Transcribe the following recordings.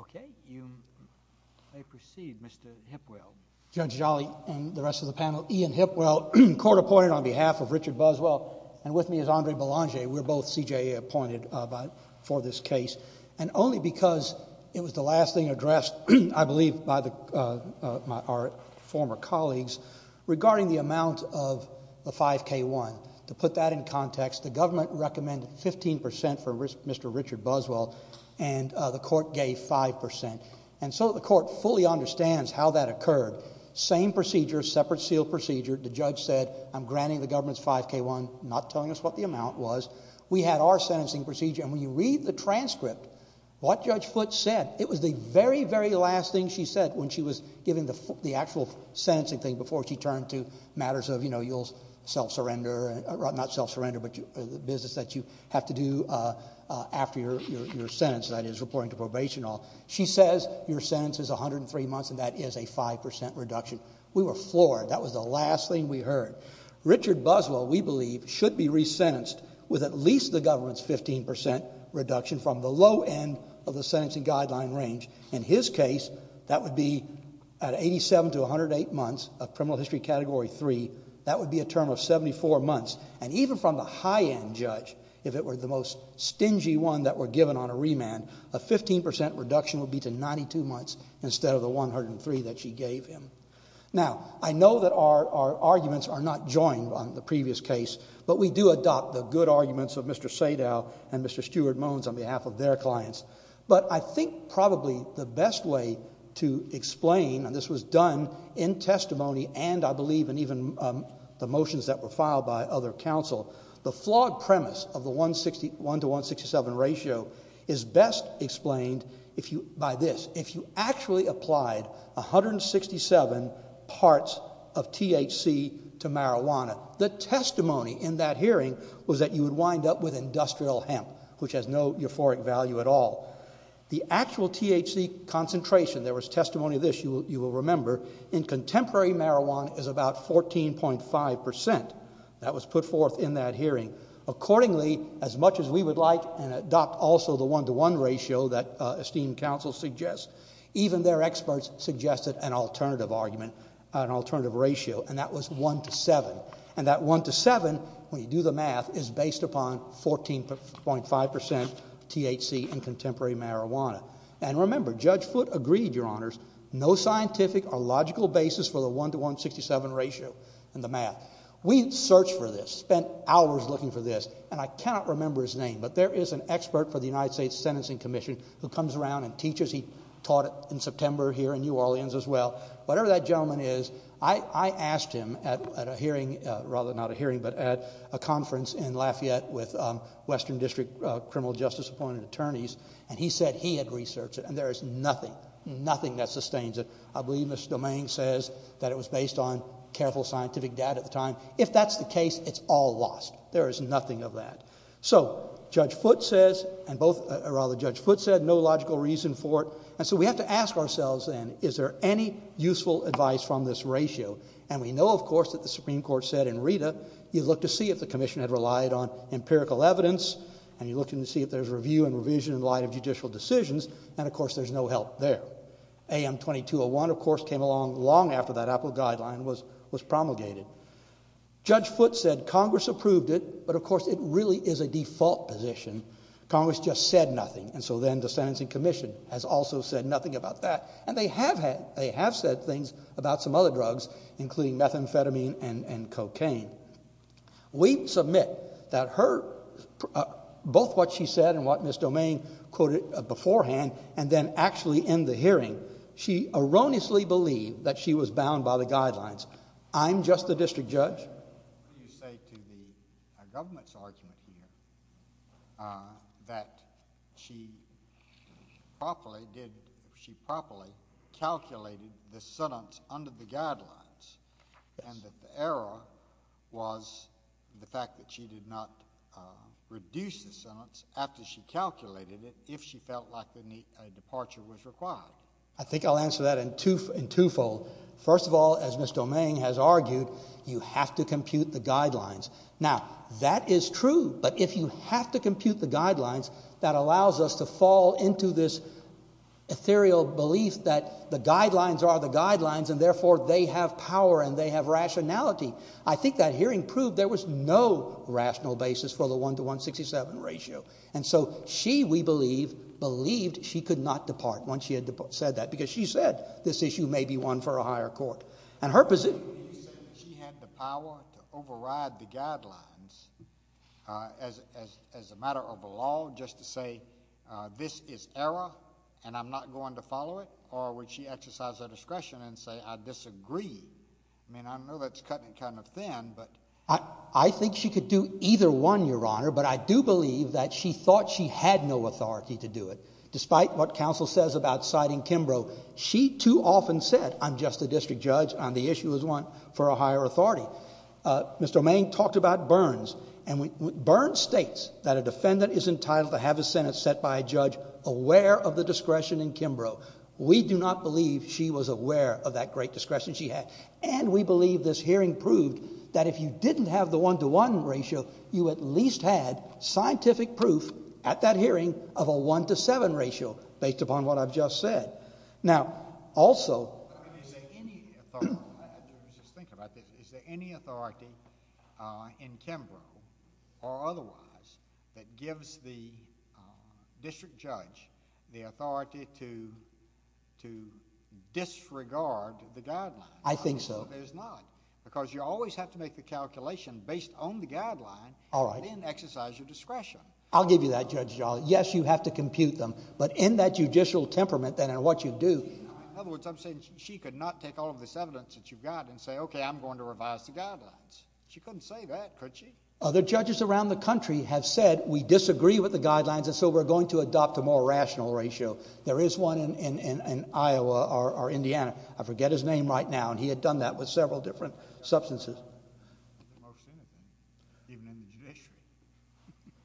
Okay, you may proceed Mr. Hipwell. Judge Jolly and the rest of the panel, Ian Hipwell, court appointed on behalf of Richard Buswell and with me is Andre Belanger, we're both CJA appointed for this case and only because it was the last thing addressed, I believe, by our former colleagues regarding the amount of the 5K1. To put that in context, the government recommended 15% for Mr. Richard Buswell and the court gave 5%. And so the court fully understands how that occurred. Same procedure, separate seal procedure, the judge said I'm granting the government's 5K1, not telling us what the amount was. We had our sentencing procedure and when you read the transcript, what Judge Foote said, it was the very, very last thing she said when she was given the actual sentencing thing before she turned to matters of you'll self-surrender, not self-surrender, but the business that you have to do after your sentence, that is reporting to probation. She says your sentence is 103 months and that is a 5% reduction. We were floored. That was the last thing we heard. Richard Buswell, we believe, should be resentenced with at least the government's 15% reduction from the low end of the sentencing guideline range. In his case, that would be at 87 to 108 months of criminal history category 3, that would be a term of 74 months. And even from the high end judge, if it were the most stingy one that were given on a remand, a 15% reduction would be to 92 months instead of the 103 that she gave him. Now, I know that our arguments are not joined on the previous case, but we do adopt the good arguments of Mr. Sadow and Mr. Stewart-Mones on behalf of their clients. But I think probably the best way to explain, and this was done in testimony and I believe in even the motions that were filed by other counsel, the flawed premise of the 1 to 167 parts of THC to marijuana. The testimony in that hearing was that you would wind up with industrial hemp, which has no euphoric value at all. The actual THC concentration, there was testimony of this, you will remember, in contemporary marijuana is about 14.5%. That was put forth in that hearing. Accordingly, as much as we would like and adopt also the 1 to 1 ratio that esteemed counsel suggests, even their experts suggested an alternative argument, an alternative ratio, and that was 1 to 7. And that 1 to 7, when you do the math, is based upon 14.5% THC in contemporary marijuana. And remember, Judge Foote agreed, Your Honors, no scientific or logical basis for the 1 to 167 ratio in the math. We searched for this, spent hours looking for this, and I cannot remember his name, but there is an expert for the United States Sentencing Commission who comes around and teaches. He taught in September here in New Orleans as well. Whatever that gentleman is, I asked him at a hearing, rather not a hearing, but at a conference in Lafayette with Western District criminal justice appointed attorneys, and he said he had researched it, and there is nothing, nothing that sustains it. I believe Mr. Domain says that it was based on careful scientific data at the time. If that's the case, it's all lost. There is nothing of that. So, Judge Foote says, or rather Judge Foote said, no logical reason for it, and so we have to ask ourselves then, is there any useful advice from this ratio? And we know, of course, that the Supreme Court said in Rita, you look to see if the commission had relied on empirical evidence, and you look to see if there's review and revision in light of judicial decisions, and of course there's no help there. AM 2201, of course, came along long after that Apple guideline was promulgated. Judge Foote said Congress approved it, but of course it really is a default position. Congress just said nothing, and so then the sentencing commission has also said nothing about that, and they have said things about some other drugs, including methamphetamine and cocaine. We submit that her, both what she said and what Ms. Domain quoted beforehand, and then actually in the hearing, she erroneously believed that she was bound by the guidelines. I'm just the district judge. AM 2202, did you say to the government's argument here that she properly did, she properly calculated the sentence under the guidelines, and that the error was the fact that she did not reduce the sentence after she calculated it, if she felt like a departure was required? I think I'll answer that in two, in twofold. First of all, as Ms. Domain has argued, you have to compute the guidelines. Now that is true, but if you have to compute the guidelines, that allows us to fall into this ethereal belief that the guidelines are the guidelines, and therefore they have power and they have rationality. I think that hearing proved there was no rational basis for the 1 to 167 ratio, and so she, we believe, believed she could not depart once she had said that, because she said this issue may be one for a higher court. And her position— Would you say that she had the power to override the guidelines as a matter of the law, just to say, this is error, and I'm not going to follow it, or would she exercise her discretion and say, I disagree? I mean, I know that's cutting it kind of thin, but— I think she could do either one, Your Honor, but I do believe that she thought she had no authority to do it. Despite what counsel says about citing Kimbrough, she too often said, I'm just a district judge, and the issue is one for a higher authority. Mr. Domain talked about Burns, and Burns states that a defendant is entitled to have his sentence set by a judge aware of the discretion in Kimbrough. We do not believe she was aware of that great discretion she had, and we believe this hearing proved that if you didn't have the 1 to 1 ratio, you at least had scientific proof at that hearing of a 1 to 7 ratio, based upon what I've just said. Now, also— I mean, is there any authority—let me just think about this—is there any authority in Kimbrough, or otherwise, that gives the district judge the authority to disregard the guidelines? I think so. I don't think there's not, because you always have to make the calculation based on the guideline, and then exercise your discretion. I'll give you that, Judge Jolly. Yes, you have to compute them, but in that judicial temperament then, and what you do— In other words, I'm saying she could not take all of this evidence that you've got and say, okay, I'm going to revise the guidelines. She couldn't say that, could she? Other judges around the country have said, we disagree with the guidelines, and so we're going to adopt a more rational ratio. There is one in Iowa, or Indiana—I forget his name right now, and he had done that with several different substances. Most anything, even in the judiciary.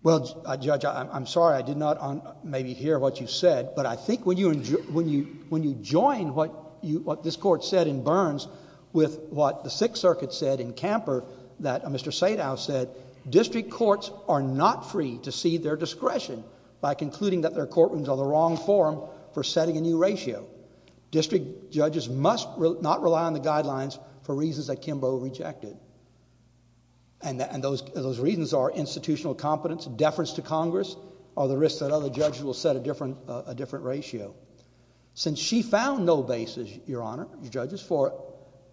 Well, Judge, I'm sorry I did not maybe hear what you said, but I think when you join what this Court said in Burns with what the Sixth Circuit said in Camper that Mr. Sadow said, district courts are not free to cede their discretion by concluding that their courtrooms are the wrong forum for setting a new ratio. District judges must not rely on the guidelines for reasons that Kimbo rejected, and those reasons are institutional competence, deference to Congress, or the risk that other judges will set a different ratio. Since she found no basis, Your Honor, judges, for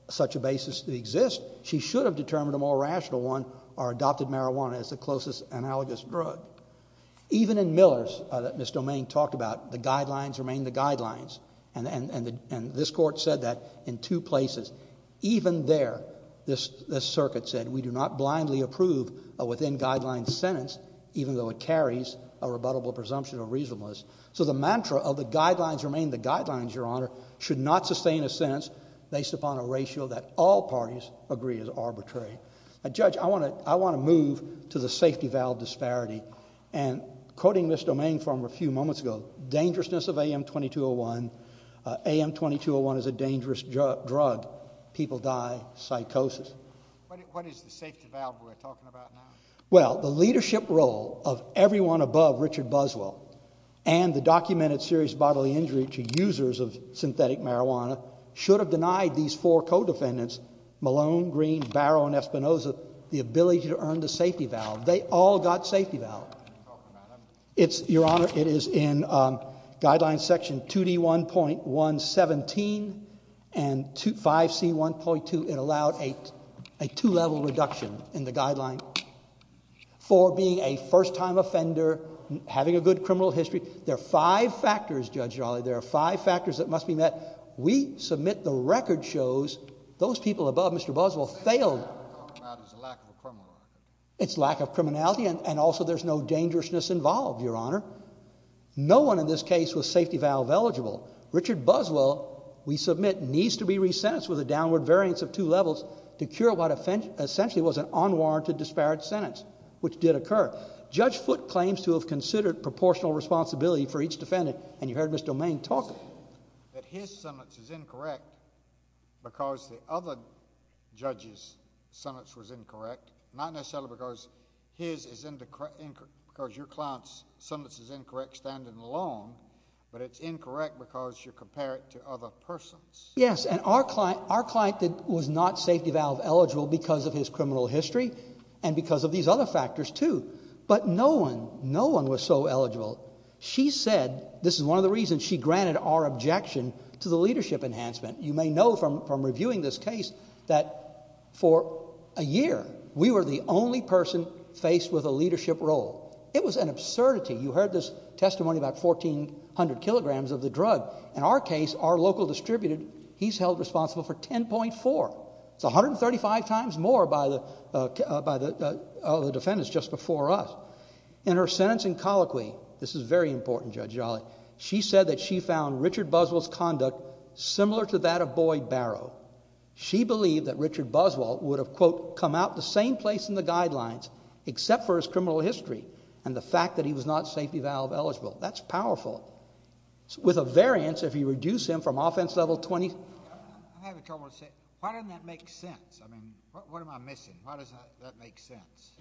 such a basis to exist, she should have determined a more rational one, or adopted marijuana as the closest analogous drug. Even in Millers, that Ms. Domain talked about, the guidelines remain the guidelines, and this Court said that in two places. Even there, this Circuit said, we do not blindly approve a within-guidelines sentence, even though it carries a rebuttable presumption of reasonableness. So the mantra of the guidelines remain the guidelines, Your Honor, should not sustain a sentence based upon a ratio that all parties agree is arbitrary. Judge, I want to move to the safety valve disparity, and quoting Ms. Domain from a few moments ago, dangerousness of AM-2201, AM-2201 is a dangerous drug, people die, psychosis. What is the safety valve we're talking about now? Well, the leadership role of everyone above Richard Buswell, and the documented serious bodily injury to users of synthetic marijuana, should have denied these four co-defendants Malone, Green, Barrow, and Espinoza the ability to earn the safety valve. They all got safety valve. Your Honor, it is in Guideline Section 2D1.117 and 5C1.2, it allowed a two-level reduction in the guideline for being a first-time offender, having a good criminal history. There are five factors, Judge Raleigh, there are five factors that must be met. We submit the record shows those people above Mr. Buswell failed. It's lack of criminality, and also there's no dangerousness involved, Your Honor. No one in this case was safety valve eligible. Richard Buswell, we submit, needs to be resentenced with a downward variance of two levels to cure what essentially was an unwarranted disparate sentence, which did occur. Judge Foote claims to have considered proportional responsibility for each defendant, and you said his sentence is incorrect because the other judge's sentence was incorrect, not necessarily because your client's sentence is incorrect standing alone, but it's incorrect because you compare it to other persons. Yes, and our client was not safety valve eligible because of his criminal history and because of these other factors too, but no one, no one was so eligible. She said, this is one of the reasons she granted our objection to the leadership enhancement. You may know from reviewing this case that for a year, we were the only person faced with a leadership role. It was an absurdity. You heard this testimony about 1400 kilograms of the drug. In our case, our local distributed, he's held responsible for 10.4. It's 135 times more by the defendants just before us. In her sentence in colloquy, this is very important, Judge Jolly. She said that she found Richard Buswell's conduct similar to that of Boyd Barrow. She believed that Richard Buswell would have, quote, come out the same place in the guidelines except for his criminal history and the fact that he was not safety valve eligible. That's powerful. With a variance, if you reduce him from offense level 20... I'm having trouble to say. Why doesn't that make sense? I mean, what am I missing? Why doesn't that make sense?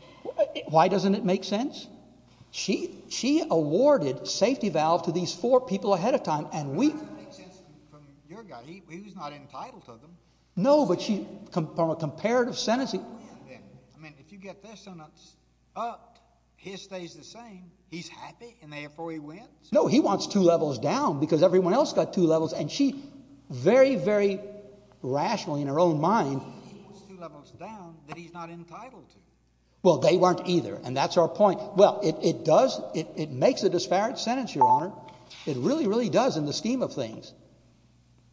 Why doesn't it make sense? She awarded safety valve to these four people ahead of time and we... It doesn't make sense from your guy. He was not entitled to them. No, but from a comparative sentence... I mean, if you get this sentence up, his stays the same. He's happy and therefore he wins. No, he wants two levels down because everyone else got two levels and she very, very rationally in her own mind... Well, they weren't either and that's our point. Well, it does... It makes a disparate sentence, Your Honor. It really, really does in the scheme of things.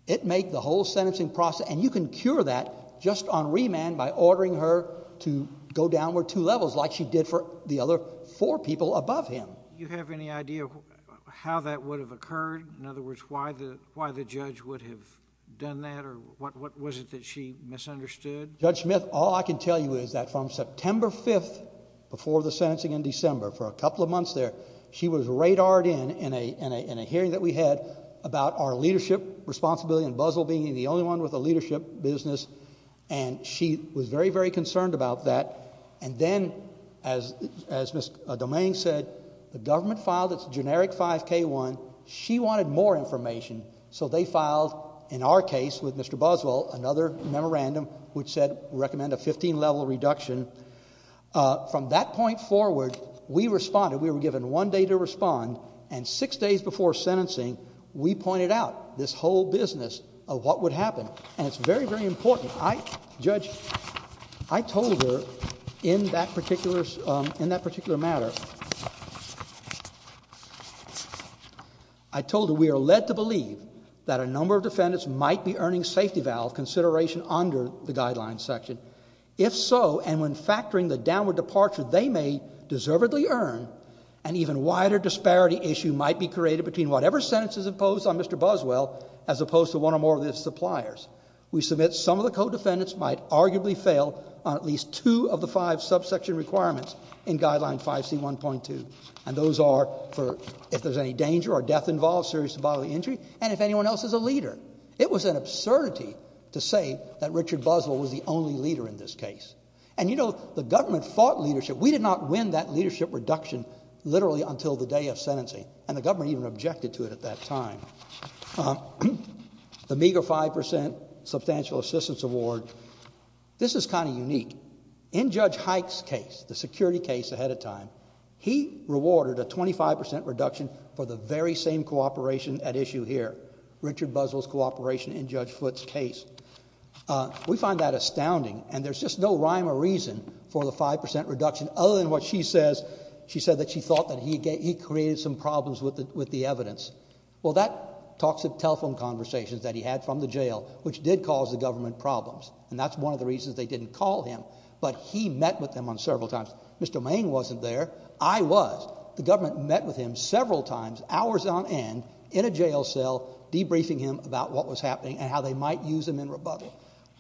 It makes the whole sentencing process... And you can cure that just on remand by ordering her to go downward two levels like she did for the other four people above him. You have any idea how that would have occurred? In other words, why the judge would have done that or what was it that she misunderstood? Judge Smith, all I can tell you is that from September 5th before the sentencing in December for a couple of months there, she was radared in a hearing that we had about our leadership responsibility and Buzwell being the only one with a leadership business. She was very, very concerned about that. Then as Ms. Domaine said, the government filed its generic 5K1. She wanted more information so they filed, in our case with Mr. Buzwell, another memorandum which said we recommend a 15 level reduction. From that point forward, we responded. We were given one day to respond and six days before sentencing, we pointed out this whole business of what would happen and it's very, very important. Judge, I told her in that particular matter, I told her we are led to believe that a number of defendants might be earning safety valve consideration under the guidelines section. If so, and when factoring the downward departure they may deservedly earn, an even wider disparity issue might be created between whatever sentence is imposed on Mr. Buzwell as opposed to one or more of his suppliers. We submit some of the co-defendants might arguably fail on at least two of the five subsection requirements in Guideline 5C1.2 and those are for if there's any danger or It was an absurdity to say that Richard Buzwell was the only leader in this case. And you know, the government fought leadership. We did not win that leadership reduction literally until the day of sentencing and the government even objected to it at that time. The meager 5% substantial assistance award, this is kind of unique. In Judge Hike's case, the security case ahead of time, he rewarded a 25% reduction for the very same cooperation at issue here, Richard Buzwell's cooperation in Judge Foote's case. We find that astounding and there's just no rhyme or reason for the 5% reduction other than what she says, she said that she thought that he created some problems with the evidence. Well that talks of telephone conversations that he had from the jail, which did cause the government problems. And that's one of the reasons they didn't call him, but he met with them on several times. Mr. Mayne wasn't there. I was. But the government met with him several times, hours on end, in a jail cell, debriefing him about what was happening and how they might use him in rebuttal.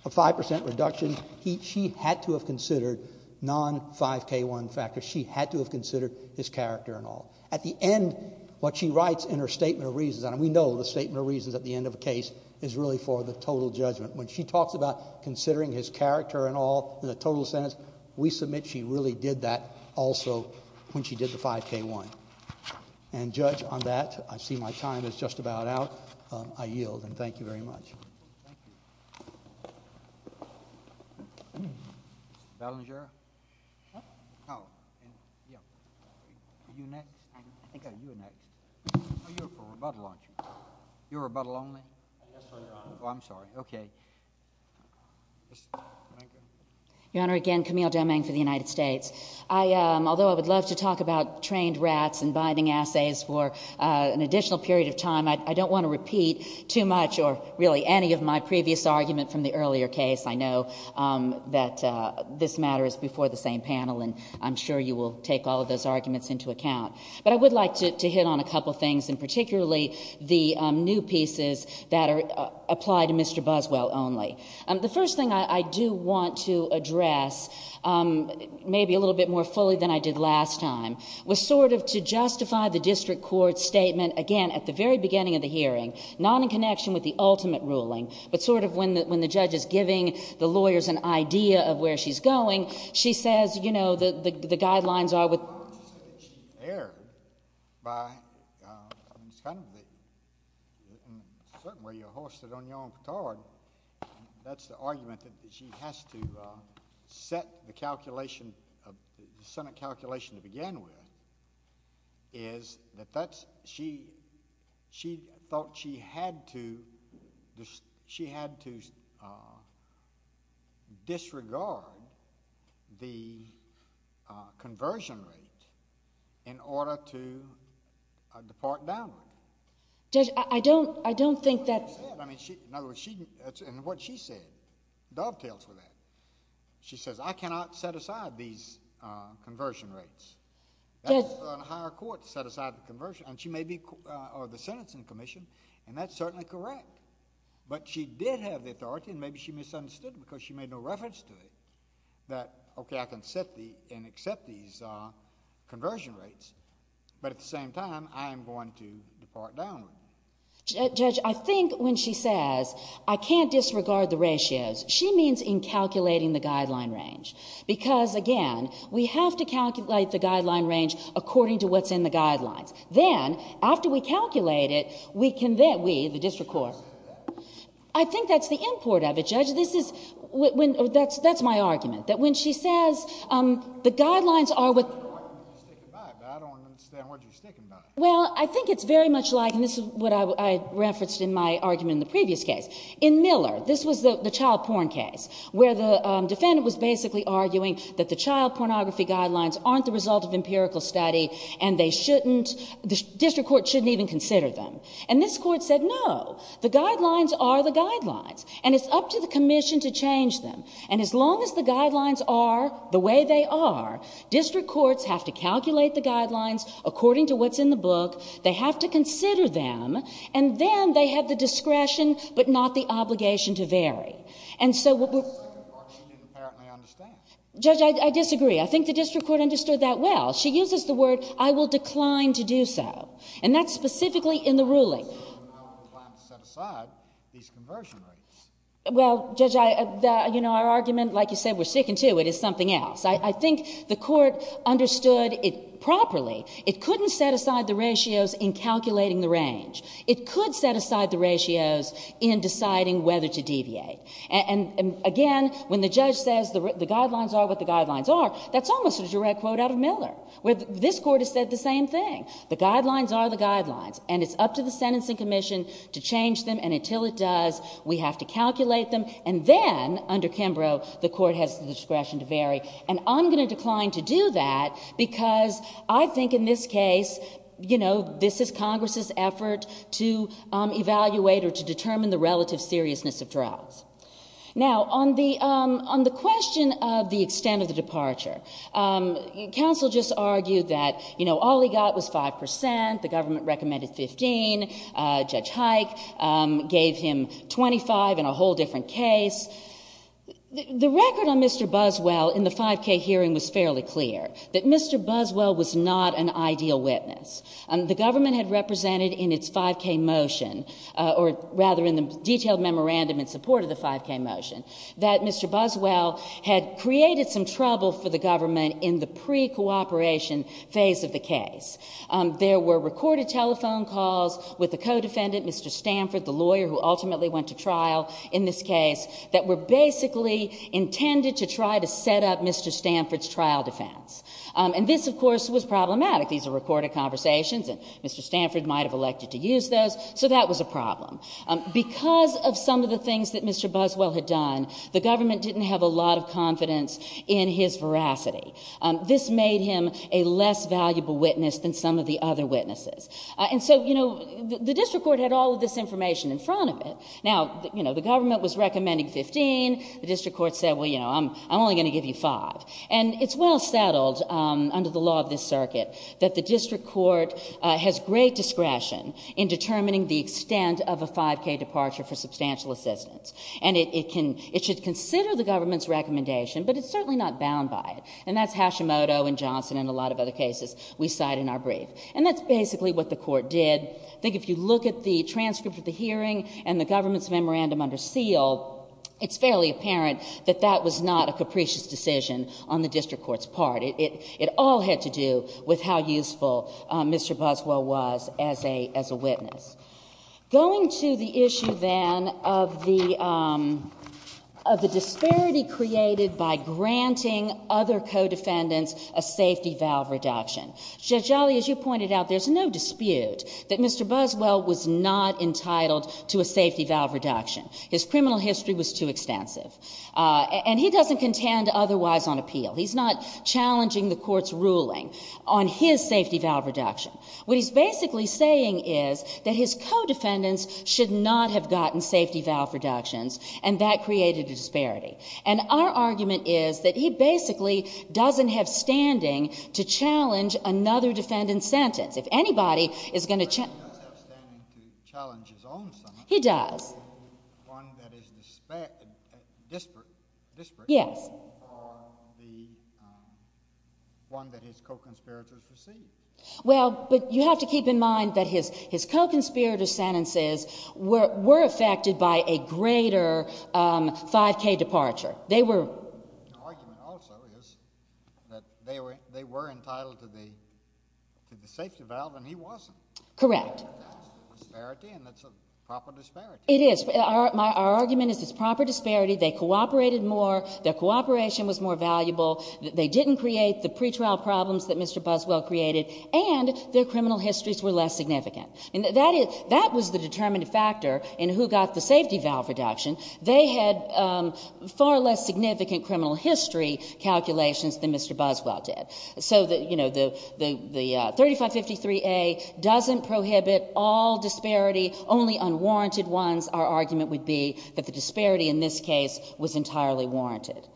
A 5% reduction, she had to have considered non-5K1 factors. She had to have considered his character and all. At the end, what she writes in her statement of reasons, and we know the statement of reasons at the end of a case is really for the total judgment. When she talks about considering his character and all in the total sentence, we submit she really did that also when she did the 5K1. And Judge, on that, I see my time is just about out, I yield, and thank you very much. Thank you. Mr. Ballinger? Huh? Oh. Yeah. Are you next? I think you're next. Oh, you're for rebuttal, aren't you? You're rebuttal only? Yes, Your Honor. Oh, I'm sorry. Okay. Thank you. Your Honor, again, Camille Domingue for the United States. Although I would love to talk about trained rats and binding assays for an additional period of time, I don't want to repeat too much or really any of my previous argument from the earlier case. I know that this matter is before the same panel, and I'm sure you will take all of those arguments into account. But I would like to hit on a couple things, and particularly the new pieces that apply to Mr. Buswell only. The first thing I do want to address, maybe a little bit more fully than I did last time, was sort of to justify the district court's statement, again, at the very beginning of the hearing, not in connection with the ultimate ruling, but sort of when the judge is giving the lawyers an idea of where she's going, she says, you know, the guidelines are with... I would just say that she erred by... in a certain way, you're hoisted on your own cart. That's the argument that she has to set the calculation, the Senate calculation to begin with, is that she thought she had to disregard the conversion rate in order to depart downward. I don't think that... In other words, what she said dovetails with that. She says, I cannot set aside these conversion rates. That's on higher court, to set aside the conversion. And she may be... or the sentencing commission, and that's certainly correct. But she did have the authority, and maybe she misunderstood, because she made no reference to it, that, okay, I can set the... and accept these conversion rates, but at the same time, I am going to depart downward. Judge, I think when she says, I can't disregard the ratios, she means in calculating the guideline range, because, again, we have to calculate the guideline range according to what's in the guidelines. Then, after we calculate it, we can then... we, the district court... I think that's the import of it, Judge. This is... that's my argument, that when she says, the guidelines are what... Well, I think it's very much like... and this is what I referenced in my argument in the previous case. In Miller, this was the child porn case, where the defendant was basically arguing that the child pornography guidelines aren't the result of empirical study, and they shouldn't... the district court shouldn't even consider them. And this court said, no, the guidelines are the guidelines, and it's up to the commission to change them. And as long as the guidelines are the way they are, district courts have to calculate the guidelines according to what's in the book, they have to consider them, and then they have the discretion, but not the obligation to vary. And so... That's the second part she didn't apparently understand. Judge, I disagree. I think the district court understood that well. She uses the word, I will decline to do so. And that's specifically in the ruling. And so, you're not inclined to set aside these conversion rates. Well, Judge, I... you know, our argument, like you said, we're sticking to it, is something else. I think the court understood it properly. It couldn't set aside the ratios in calculating the range. It could set aside the ratios in deciding whether to deviate. And again, when the judge says the guidelines are what the guidelines are, that's almost a direct quote out of Miller, where this court has said the same thing. The guidelines are the guidelines. And it's up to the sentencing commission to change them. And until it does, we have to calculate them. And then, under Kimbrough, the court has the discretion to vary. And I'm going to decline to do that because I think in this case, you know, this is Congress's effort to evaluate or to determine the relative seriousness of trials. Now, on the question of the extent of the departure, counsel just argued that, you know, all he got was 5 percent. The government recommended 15. Judge Hike gave him 25 in a whole different case. The record on Mr. Buswell in the 5K hearing was fairly clear, that Mr. Buswell was not an ideal witness. The government had represented in its 5K motion, or rather in the detailed memorandum in support of the 5K motion, that Mr. Buswell had created some trouble for the government in the pre-cooperation phase of the case. There were recorded telephone calls with the co-defendant, Mr. Stanford, the lawyer who ultimately went to trial in this case, that were basically intended to try to set up Mr. Stanford's trial defense. And this, of course, was problematic. These are recorded conversations, and Mr. Stanford might have elected to use those. So that was a problem. Because of some of the things that Mr. Buswell had done, the government didn't have a lot of confidence in his veracity. This made him a less valuable witness than some of the other witnesses. And so, you know, the district court had all of this information in front of it. Now, you know, the government was recommending 15. The district court said, well, you know, I'm only going to give you 5. And it's well settled under the law of this circuit that the district court has great discretion in determining the extent of a 5K departure for substantial assistance. And it should consider the government's recommendation, but it's certainly not bound by it. And that's Hashimoto and Johnson and a lot of other cases we cite in our brief. And that's basically what the court did. I think if you look at the transcript of the hearing and the government's memorandum under the district court's part, it all had to do with how useful Mr. Buswell was as a witness. Going to the issue then of the disparity created by granting other co-defendants a safety valve reduction. Judge Jolly, as you pointed out, there's no dispute that Mr. Buswell was not entitled to a safety valve reduction. His criminal history was too extensive. And he doesn't contend otherwise on appeal. He's not challenging the court's ruling on his safety valve reduction. What he's basically saying is that his co-defendants should not have gotten safety valve reductions, and that created a disparity. And our argument is that he basically doesn't have standing to challenge another defendant's sentence. If anybody is going to challenge his own sentence. He does. One that is disparate from the one that his co-conspirators received. Well, but you have to keep in mind that his co-conspirator sentences were affected by a greater 5k departure. Their argument also is that they were entitled to the safety valve, and he wasn't. Correct. That's a disparity, and that's a proper disparity. It is. Our argument is it's a proper disparity. They cooperated more. Their cooperation was more valuable. They didn't create the pretrial problems that Mr. Buswell created. And their criminal histories were less significant. And that was the determining factor in who got the safety valve reduction. They had far less significant criminal history calculations than Mr. Buswell did. So the 3553A doesn't prohibit all disparity, only unwarranted ones. Our argument would be that the disparity in this case was entirely warranted.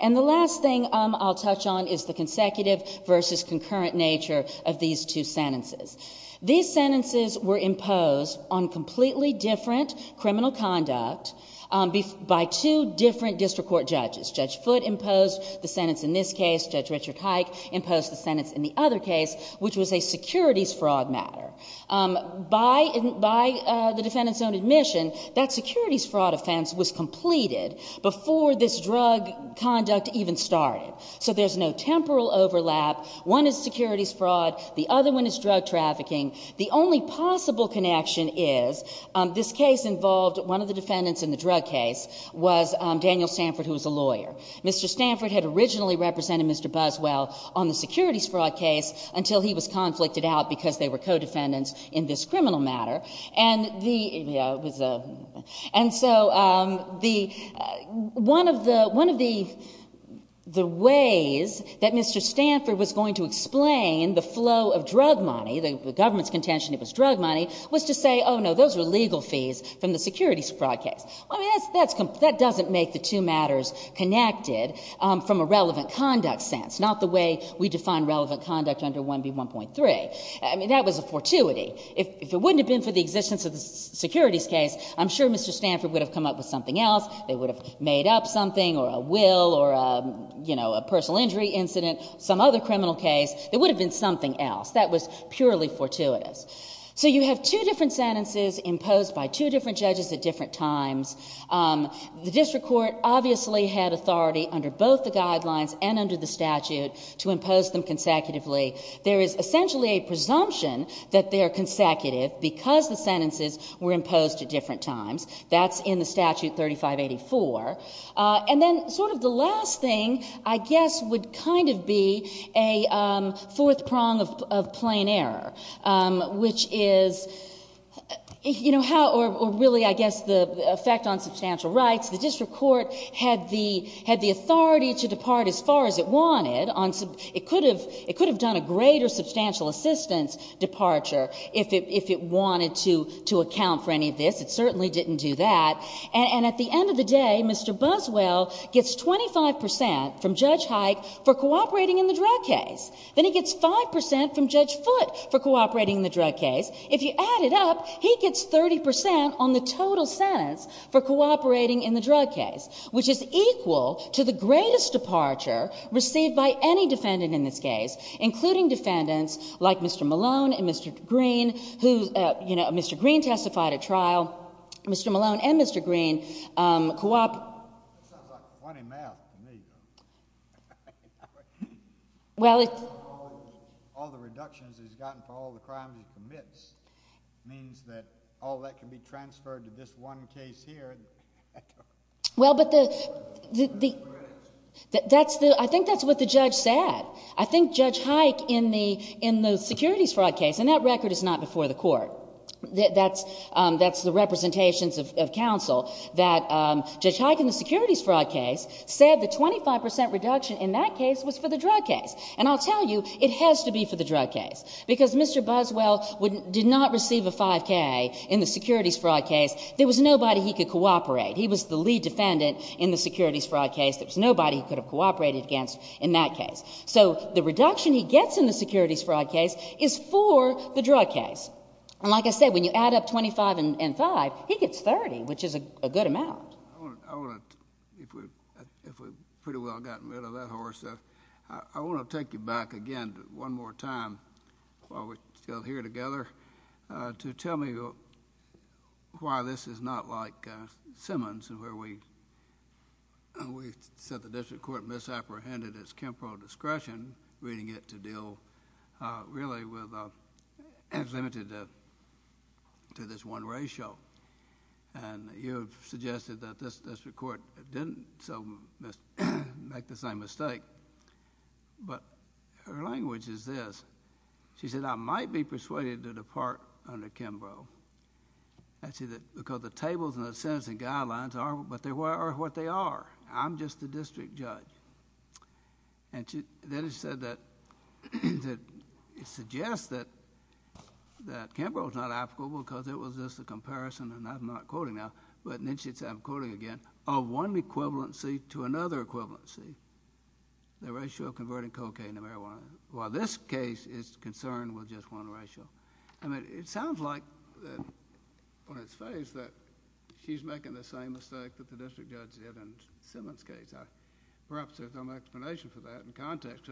And the last thing I'll touch on is the consecutive versus concurrent nature of these two sentences. These sentences were imposed on completely different criminal conduct by two different district court judges. Judge Foote imposed the sentence in this case. Judge Richard Hike imposed the sentence in the other case, which was a securities fraud matter. By the defendant's own admission, that securities fraud offense was completed before this drug conduct even started. So there's no temporal overlap. One is securities fraud. The other one is drug trafficking. The only possible connection is this case involved one of the defendants in the drug case was Daniel Stanford, who was a lawyer. Mr. Stanford had originally represented Mr. Buswell on the securities fraud case until he was conflicted out because they were co-defendants in this criminal matter. And so one of the ways that Mr. Stanford was going to explain the flow of drug money, the government's contention it was drug money, was to say, no, those were legal fees from the securities fraud case. I mean, that doesn't make the two matters connected from a relevant conduct sense, not the way we define relevant conduct under 1B1.3. I mean, that was a fortuity. If it wouldn't have been for the existence of the securities case, I'm sure Mr. Stanford would have come up with something else. They would have made up something, or a will, or a personal injury incident, some other criminal case, there would have been something else. That was purely fortuitous. So you have two different sentences imposed by two different judges at different times. The district court obviously had authority under both the guidelines and under the statute to impose them consecutively. There is essentially a presumption that they are consecutive, because the sentences were imposed at different times. That's in the statute 3584. And then sort of the last thing, I guess, would kind of be a fourth prong of plain error, which is how, or really, I guess, the effect on substantial rights. The district court had the authority to depart as far as it wanted. It could have done a greater substantial assistance departure if it wanted to account for any of this. It certainly didn't do that. And at the end of the day, Mr. Buswell gets 25% from Judge Hike for cooperating in the drug case. Then he gets 5% from Judge Foote for cooperating in the drug case. If you add it up, he gets 30% on the total sentence for cooperating in the drug case, which is equal to the greatest departure received by any defendant in this case, including defendants like Mr. Malone and Mr. Greene, who, you know, Mr. Greene testified at trial. Mr. Malone and Mr. Greene cooperated. It sounds like funny math to me, though. Well, it's- All the reductions he's gotten for all the crimes he commits means that all that can be transferred to this one case here. Well, but I think that's what the judge said. I think Judge Hike, in the securities fraud case, and that record is not before the court, that's the representations of counsel, that Judge Hike and the securities fraud case said the 25% reduction in that case was for the drug case, and I'll tell you, it has to be for the drug case, because Mr. Buswell did not receive a 5K in the securities fraud case. There was nobody he could cooperate. He was the lead defendant in the securities fraud case. There was nobody he could have cooperated against in that case. So the reduction he gets in the securities fraud case is for the drug case. And like I said, when you add up 25 and 5, he gets 30, which is a good amount. I want to, if we've pretty well gotten rid of that horse, I want to take you back again one more time, while we're still here together, to tell me why this is not like Simmons, where we said the district court misapprehended its temporal discretion, reading it to deal really with, as limited to this one ratio. And you have suggested that this district court didn't make the same mistake. But her language is this. She said, I might be persuaded to depart under Kimbrough. And she said, because the tables and the sentencing guidelines are what they are. I'm just the district judge. And then she said that, it suggests that, that Kimbrough's not applicable because it was just a comparison, and I'm not quoting now. But then she said, I'm quoting again, of one equivalency to another equivalency. The ratio of converting cocaine to marijuana. While this case is concerned with just one ratio. I mean, it sounds like, on its face, that she's making the same mistake that the district judge did in Simmons' case. Perhaps there's some explanation for that in context.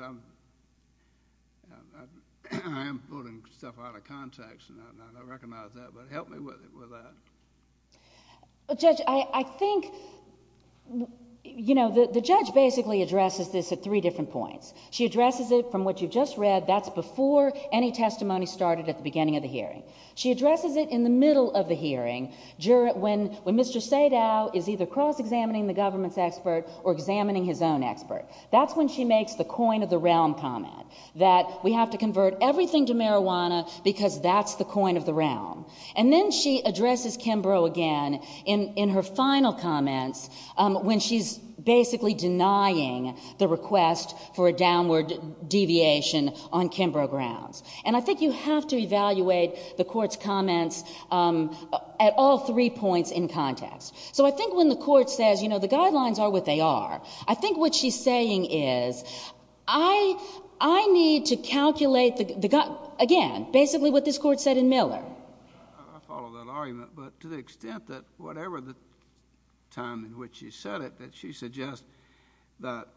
I'm pulling stuff out of context, and I don't recognize that. But help me with that. Judge, I think, you know, the judge basically addresses this at three different points. She addresses it, from what you've just read, that's before any testimony started at the beginning of the hearing. She addresses it in the middle of the hearing, when Mr. Sadow is either cross-examining the government's expert, or examining his own expert. That's when she makes the coin-of-the-realm comment. That we have to convert everything to marijuana because that's the coin of the realm. And then she addresses Kimbrough again in, in her final comments when she's basically denying the request for a downward deviation on Kimbrough grounds. And I think you have to evaluate the court's comments at all three points in context. So I think when the court says, you know, the guidelines are what they are. I think what she's saying is, I, I need to calculate the, the gu, again, basically what this court said in Miller. I, I follow that argument. But to the extent that whatever the time in which she said it, that she suggests that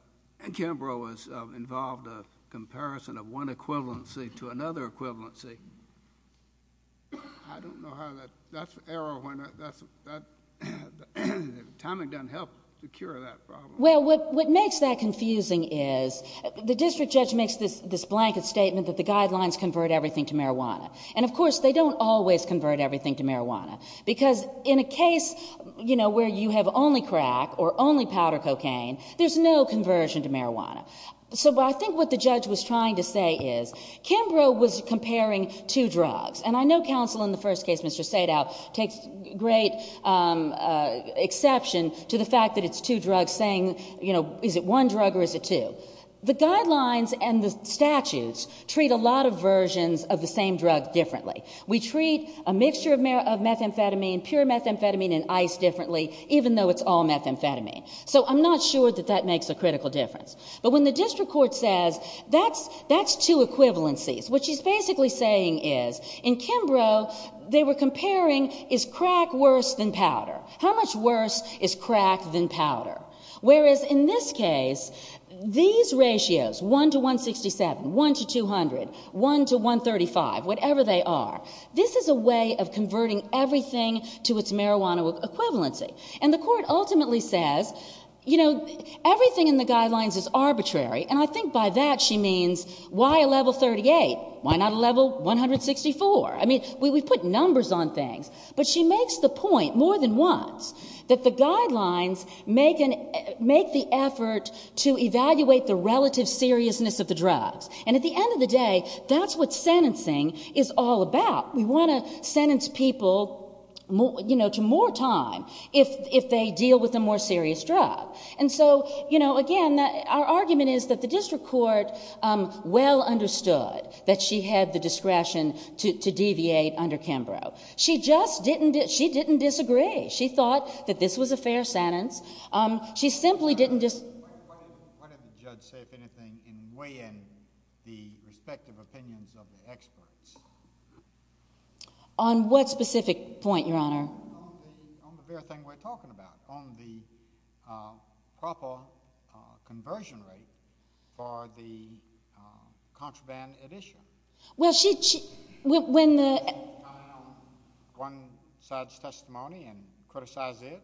Kimbrough was involved, a comparison of one equivalency to another equivalency. I don't know how that, that's an error when that's, that, the timing doesn't help secure that problem. Well, what, what makes that confusing is the district judge makes this, this blanket statement that the guidelines convert everything to marijuana. And of course, they don't always convert everything to marijuana. Because in a case, you know, where you have only crack or only powder cocaine, there's no conversion to marijuana. So, but I think what the judge was trying to say is, Kimbrough was comparing two drugs. And I know counsel in the first case, Mr. Sadow, takes great exception to the fact that it's two drugs saying, you know, is it one drug or is it two? The guidelines and the statutes treat a lot of versions of the same drug differently. We treat a mixture of meth, of methamphetamine, pure methamphetamine, and ice differently, even though it's all methamphetamine. So I'm not sure that that makes a critical difference. But when the district court says, that's, that's two equivalencies. What she's basically saying is, in Kimbrough, they were comparing, is crack worse than powder? How much worse is crack than powder? Whereas in this case, these ratios, 1 to 167, 1 to 200, 1 to 135, whatever they are. This is a way of converting everything to its marijuana equivalency. And the court ultimately says, you know, everything in the guidelines is arbitrary. And I think by that she means, why a level 38? Why not a level 164? I mean, we, we put numbers on things. But she makes the point more than once, that the guidelines make an, make the effort to evaluate the relative seriousness of the drugs. And at the end of the day, that's what sentencing is all about. We want to sentence people more, you know, to more time if, if they deal with a more serious drug. And so, you know, again, our argument is that the district court well understood that she had the discretion to, to deviate under Kimbrough. She just didn't, she didn't disagree. She thought that this was a fair sentence. She simply didn't just. Why, why, why did the judge say, if anything, in weighing the respective opinions of the experts? On what specific point, your honor? On the, on the fair thing we're talking about. On the proper conversion rate for the contraband addition. Well, she, she, when, when the. On one side's testimony and criticize it,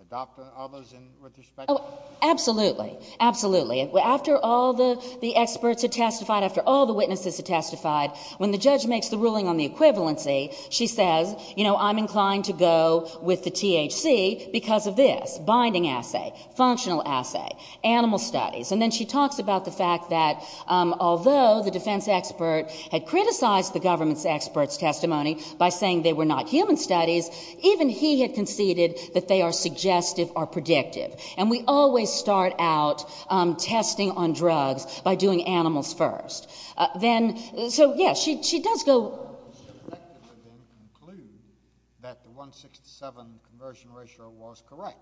adopt others in, with respect. Oh, absolutely. Absolutely. After all the, the experts have testified, after all the witnesses have testified, when the judge makes the ruling on the equivalency, she says, you know, I'm inclined to go with the THC because of this. Binding assay, functional assay, animal studies. And then she talks about the fact that although the defense expert had criticized the government's expert's testimony by saying they were not human studies, even he had conceded that they are suggestive or predictive. And we always start out testing on drugs by doing animals first. Then, so yeah, she, she does go. Does she effectively then conclude that the 167 conversion ratio was correct?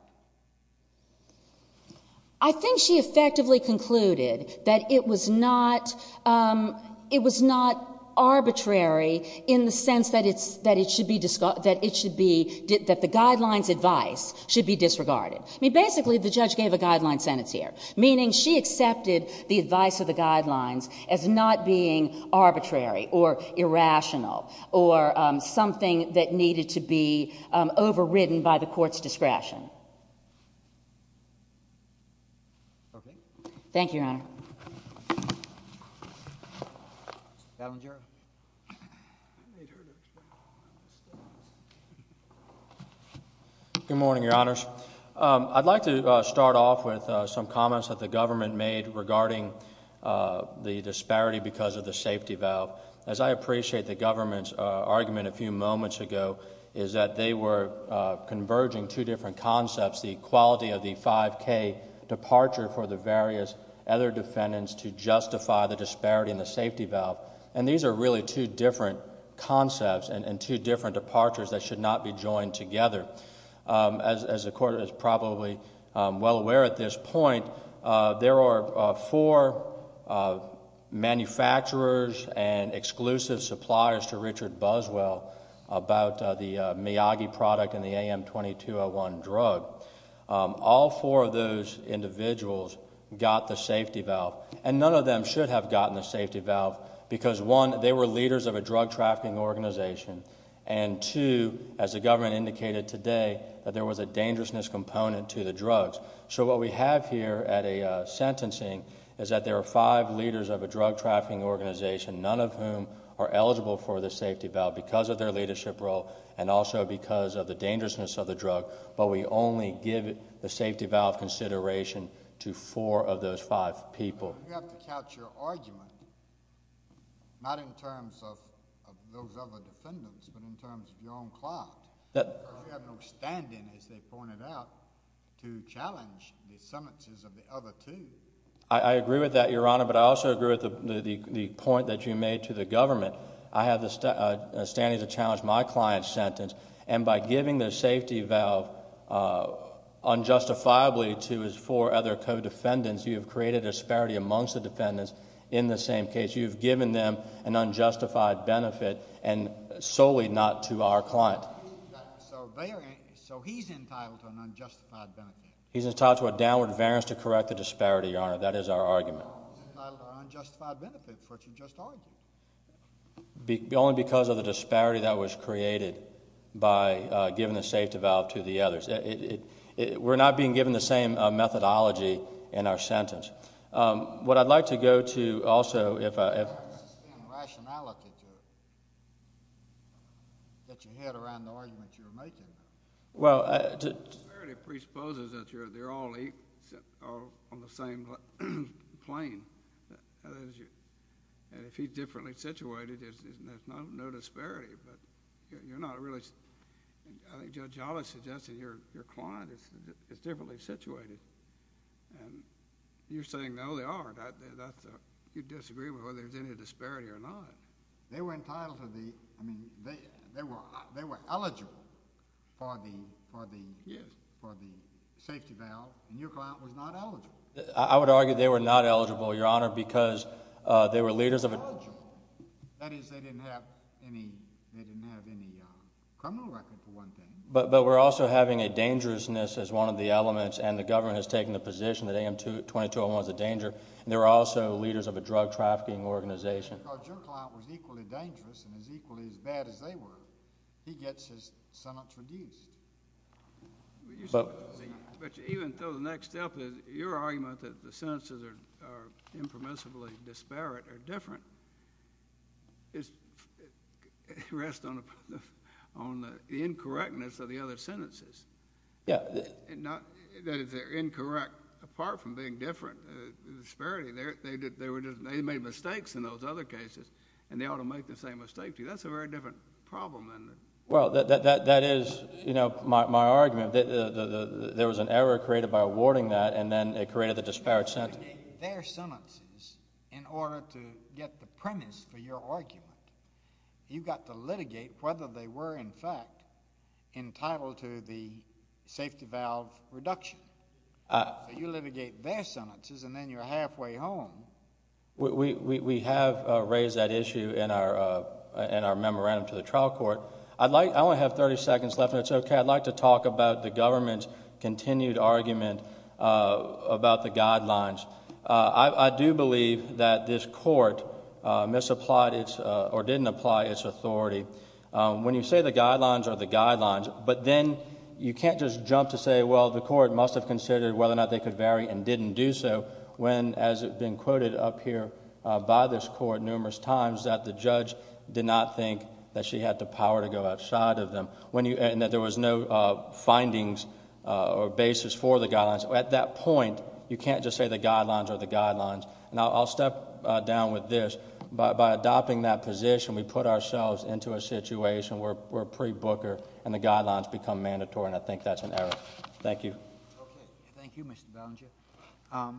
I think she effectively concluded that it was not it was not arbitrary in the sense that it's, that it should be, that it should be, that the guidelines advice should be disregarded. I mean, basically, the judge gave a guideline sentence here. Meaning, she accepted the advice of the guidelines as not being arbitrary or irrational or something that needed to be overridden by the court's discretion. Okay. Thank you, Your Honor. Madam Jury. Good morning, Your Honors. I'd like to start off with some comments that the government made regarding the disparity because of the safety valve. As I appreciate the government's argument a few moments ago, is that they were converging two different concepts. The quality of the 5K departure for the various other defendants to justify the disparity in the safety valve. And these are really two different concepts and two different departures that should not be joined together. As, as the court is probably well aware at this point, there are four manufacturers and exclusive suppliers to Richard Buswell about the Miyagi product and the AM2201 drug. All four of those individuals got the safety valve. And none of them should have gotten the safety valve because one, they were leaders of a drug trafficking organization. And two, as the government indicated today, that there was a dangerousness component to the drugs. So what we have here at a sentencing is that there are five leaders of a drug trafficking organization, none of whom are eligible for the safety valve because of their leadership role and also because of the dangerousness of the drug. But we only give the safety valve consideration to four of those five people. You have to couch your argument, not in terms of those other defendants, but in terms of your own client. We have no standing, as they pointed out, to challenge the sentences of the other two. I agree with that, your honor, but I also agree with the point that you made to the government. And by giving the safety valve unjustifiably to his four other co-defendants, you have created a disparity amongst the defendants in the same case. You've given them an unjustified benefit, and solely not to our client. So he's entitled to an unjustified benefit. He's entitled to a downward variance to correct the disparity, your honor. That is our argument. Entitled to an unjustified benefit, which you just argued. Only because of the disparity that was created by giving the safety valve to the others. We're not being given the same methodology in our sentence. What I'd like to go to also, if I- There's a certain rationality that you had around the argument you were making. Well, I- The disparity presupposes that they're all on the same plane. And if he's differently situated, there's no disparity. But you're not really- I think Judge Allis suggested your client is differently situated. And you're saying, no, they aren't. You disagree with whether there's any disparity or not. They were entitled to the- I mean, they were eligible for the safety valve, and your client was not eligible. I would argue they were not eligible, your honor, because they were leaders of a- They were eligible. That is, they didn't have any criminal record, for one thing. But we're also having a dangerousness as one of the elements, and the government has taken the position that AM 2201 is a danger. They were also leaders of a drug trafficking organization. Because your client was equally dangerous and as equally as bad as they were. He gets his sentence reduced. But even to the next step, your argument that the sentences are impermissibly disparate are different. It rests on the incorrectness of the other sentences. Yeah. That is, they're incorrect apart from being different. The disparity, they made mistakes in those other cases, and they ought to make the same mistake to you. That's a very different problem than- Well, that is, you know, my argument. There was an error created by awarding that, and then it created the disparate sentence. You litigate their sentences in order to get the premise for your argument. You've got to litigate whether they were, in fact, entitled to the safety valve reduction. So you litigate their sentences, and then you're halfway home. We have raised that issue in our memorandum to the trial court. I only have 30 seconds left, and it's okay. I'd like to talk about the government's continued argument about the guidelines. I do believe that this court misapplied or didn't apply its authority. When you say the guidelines are the guidelines, but then you can't just jump to say, well, the court must have considered whether or not they could vary and didn't do so, when, as it's been quoted up here by this court numerous times, that the judge did not think that she had the power to go outside of them, and that there was no findings or basis for the guidelines. At that point, you can't just say the guidelines are the guidelines. Now, I'll step down with this. By adopting that position, we put ourselves into a situation where we're pre-Booker, and the guidelines become mandatory, and I think that's an error. Thank you. Okay. Thank you, Mr. Belanger.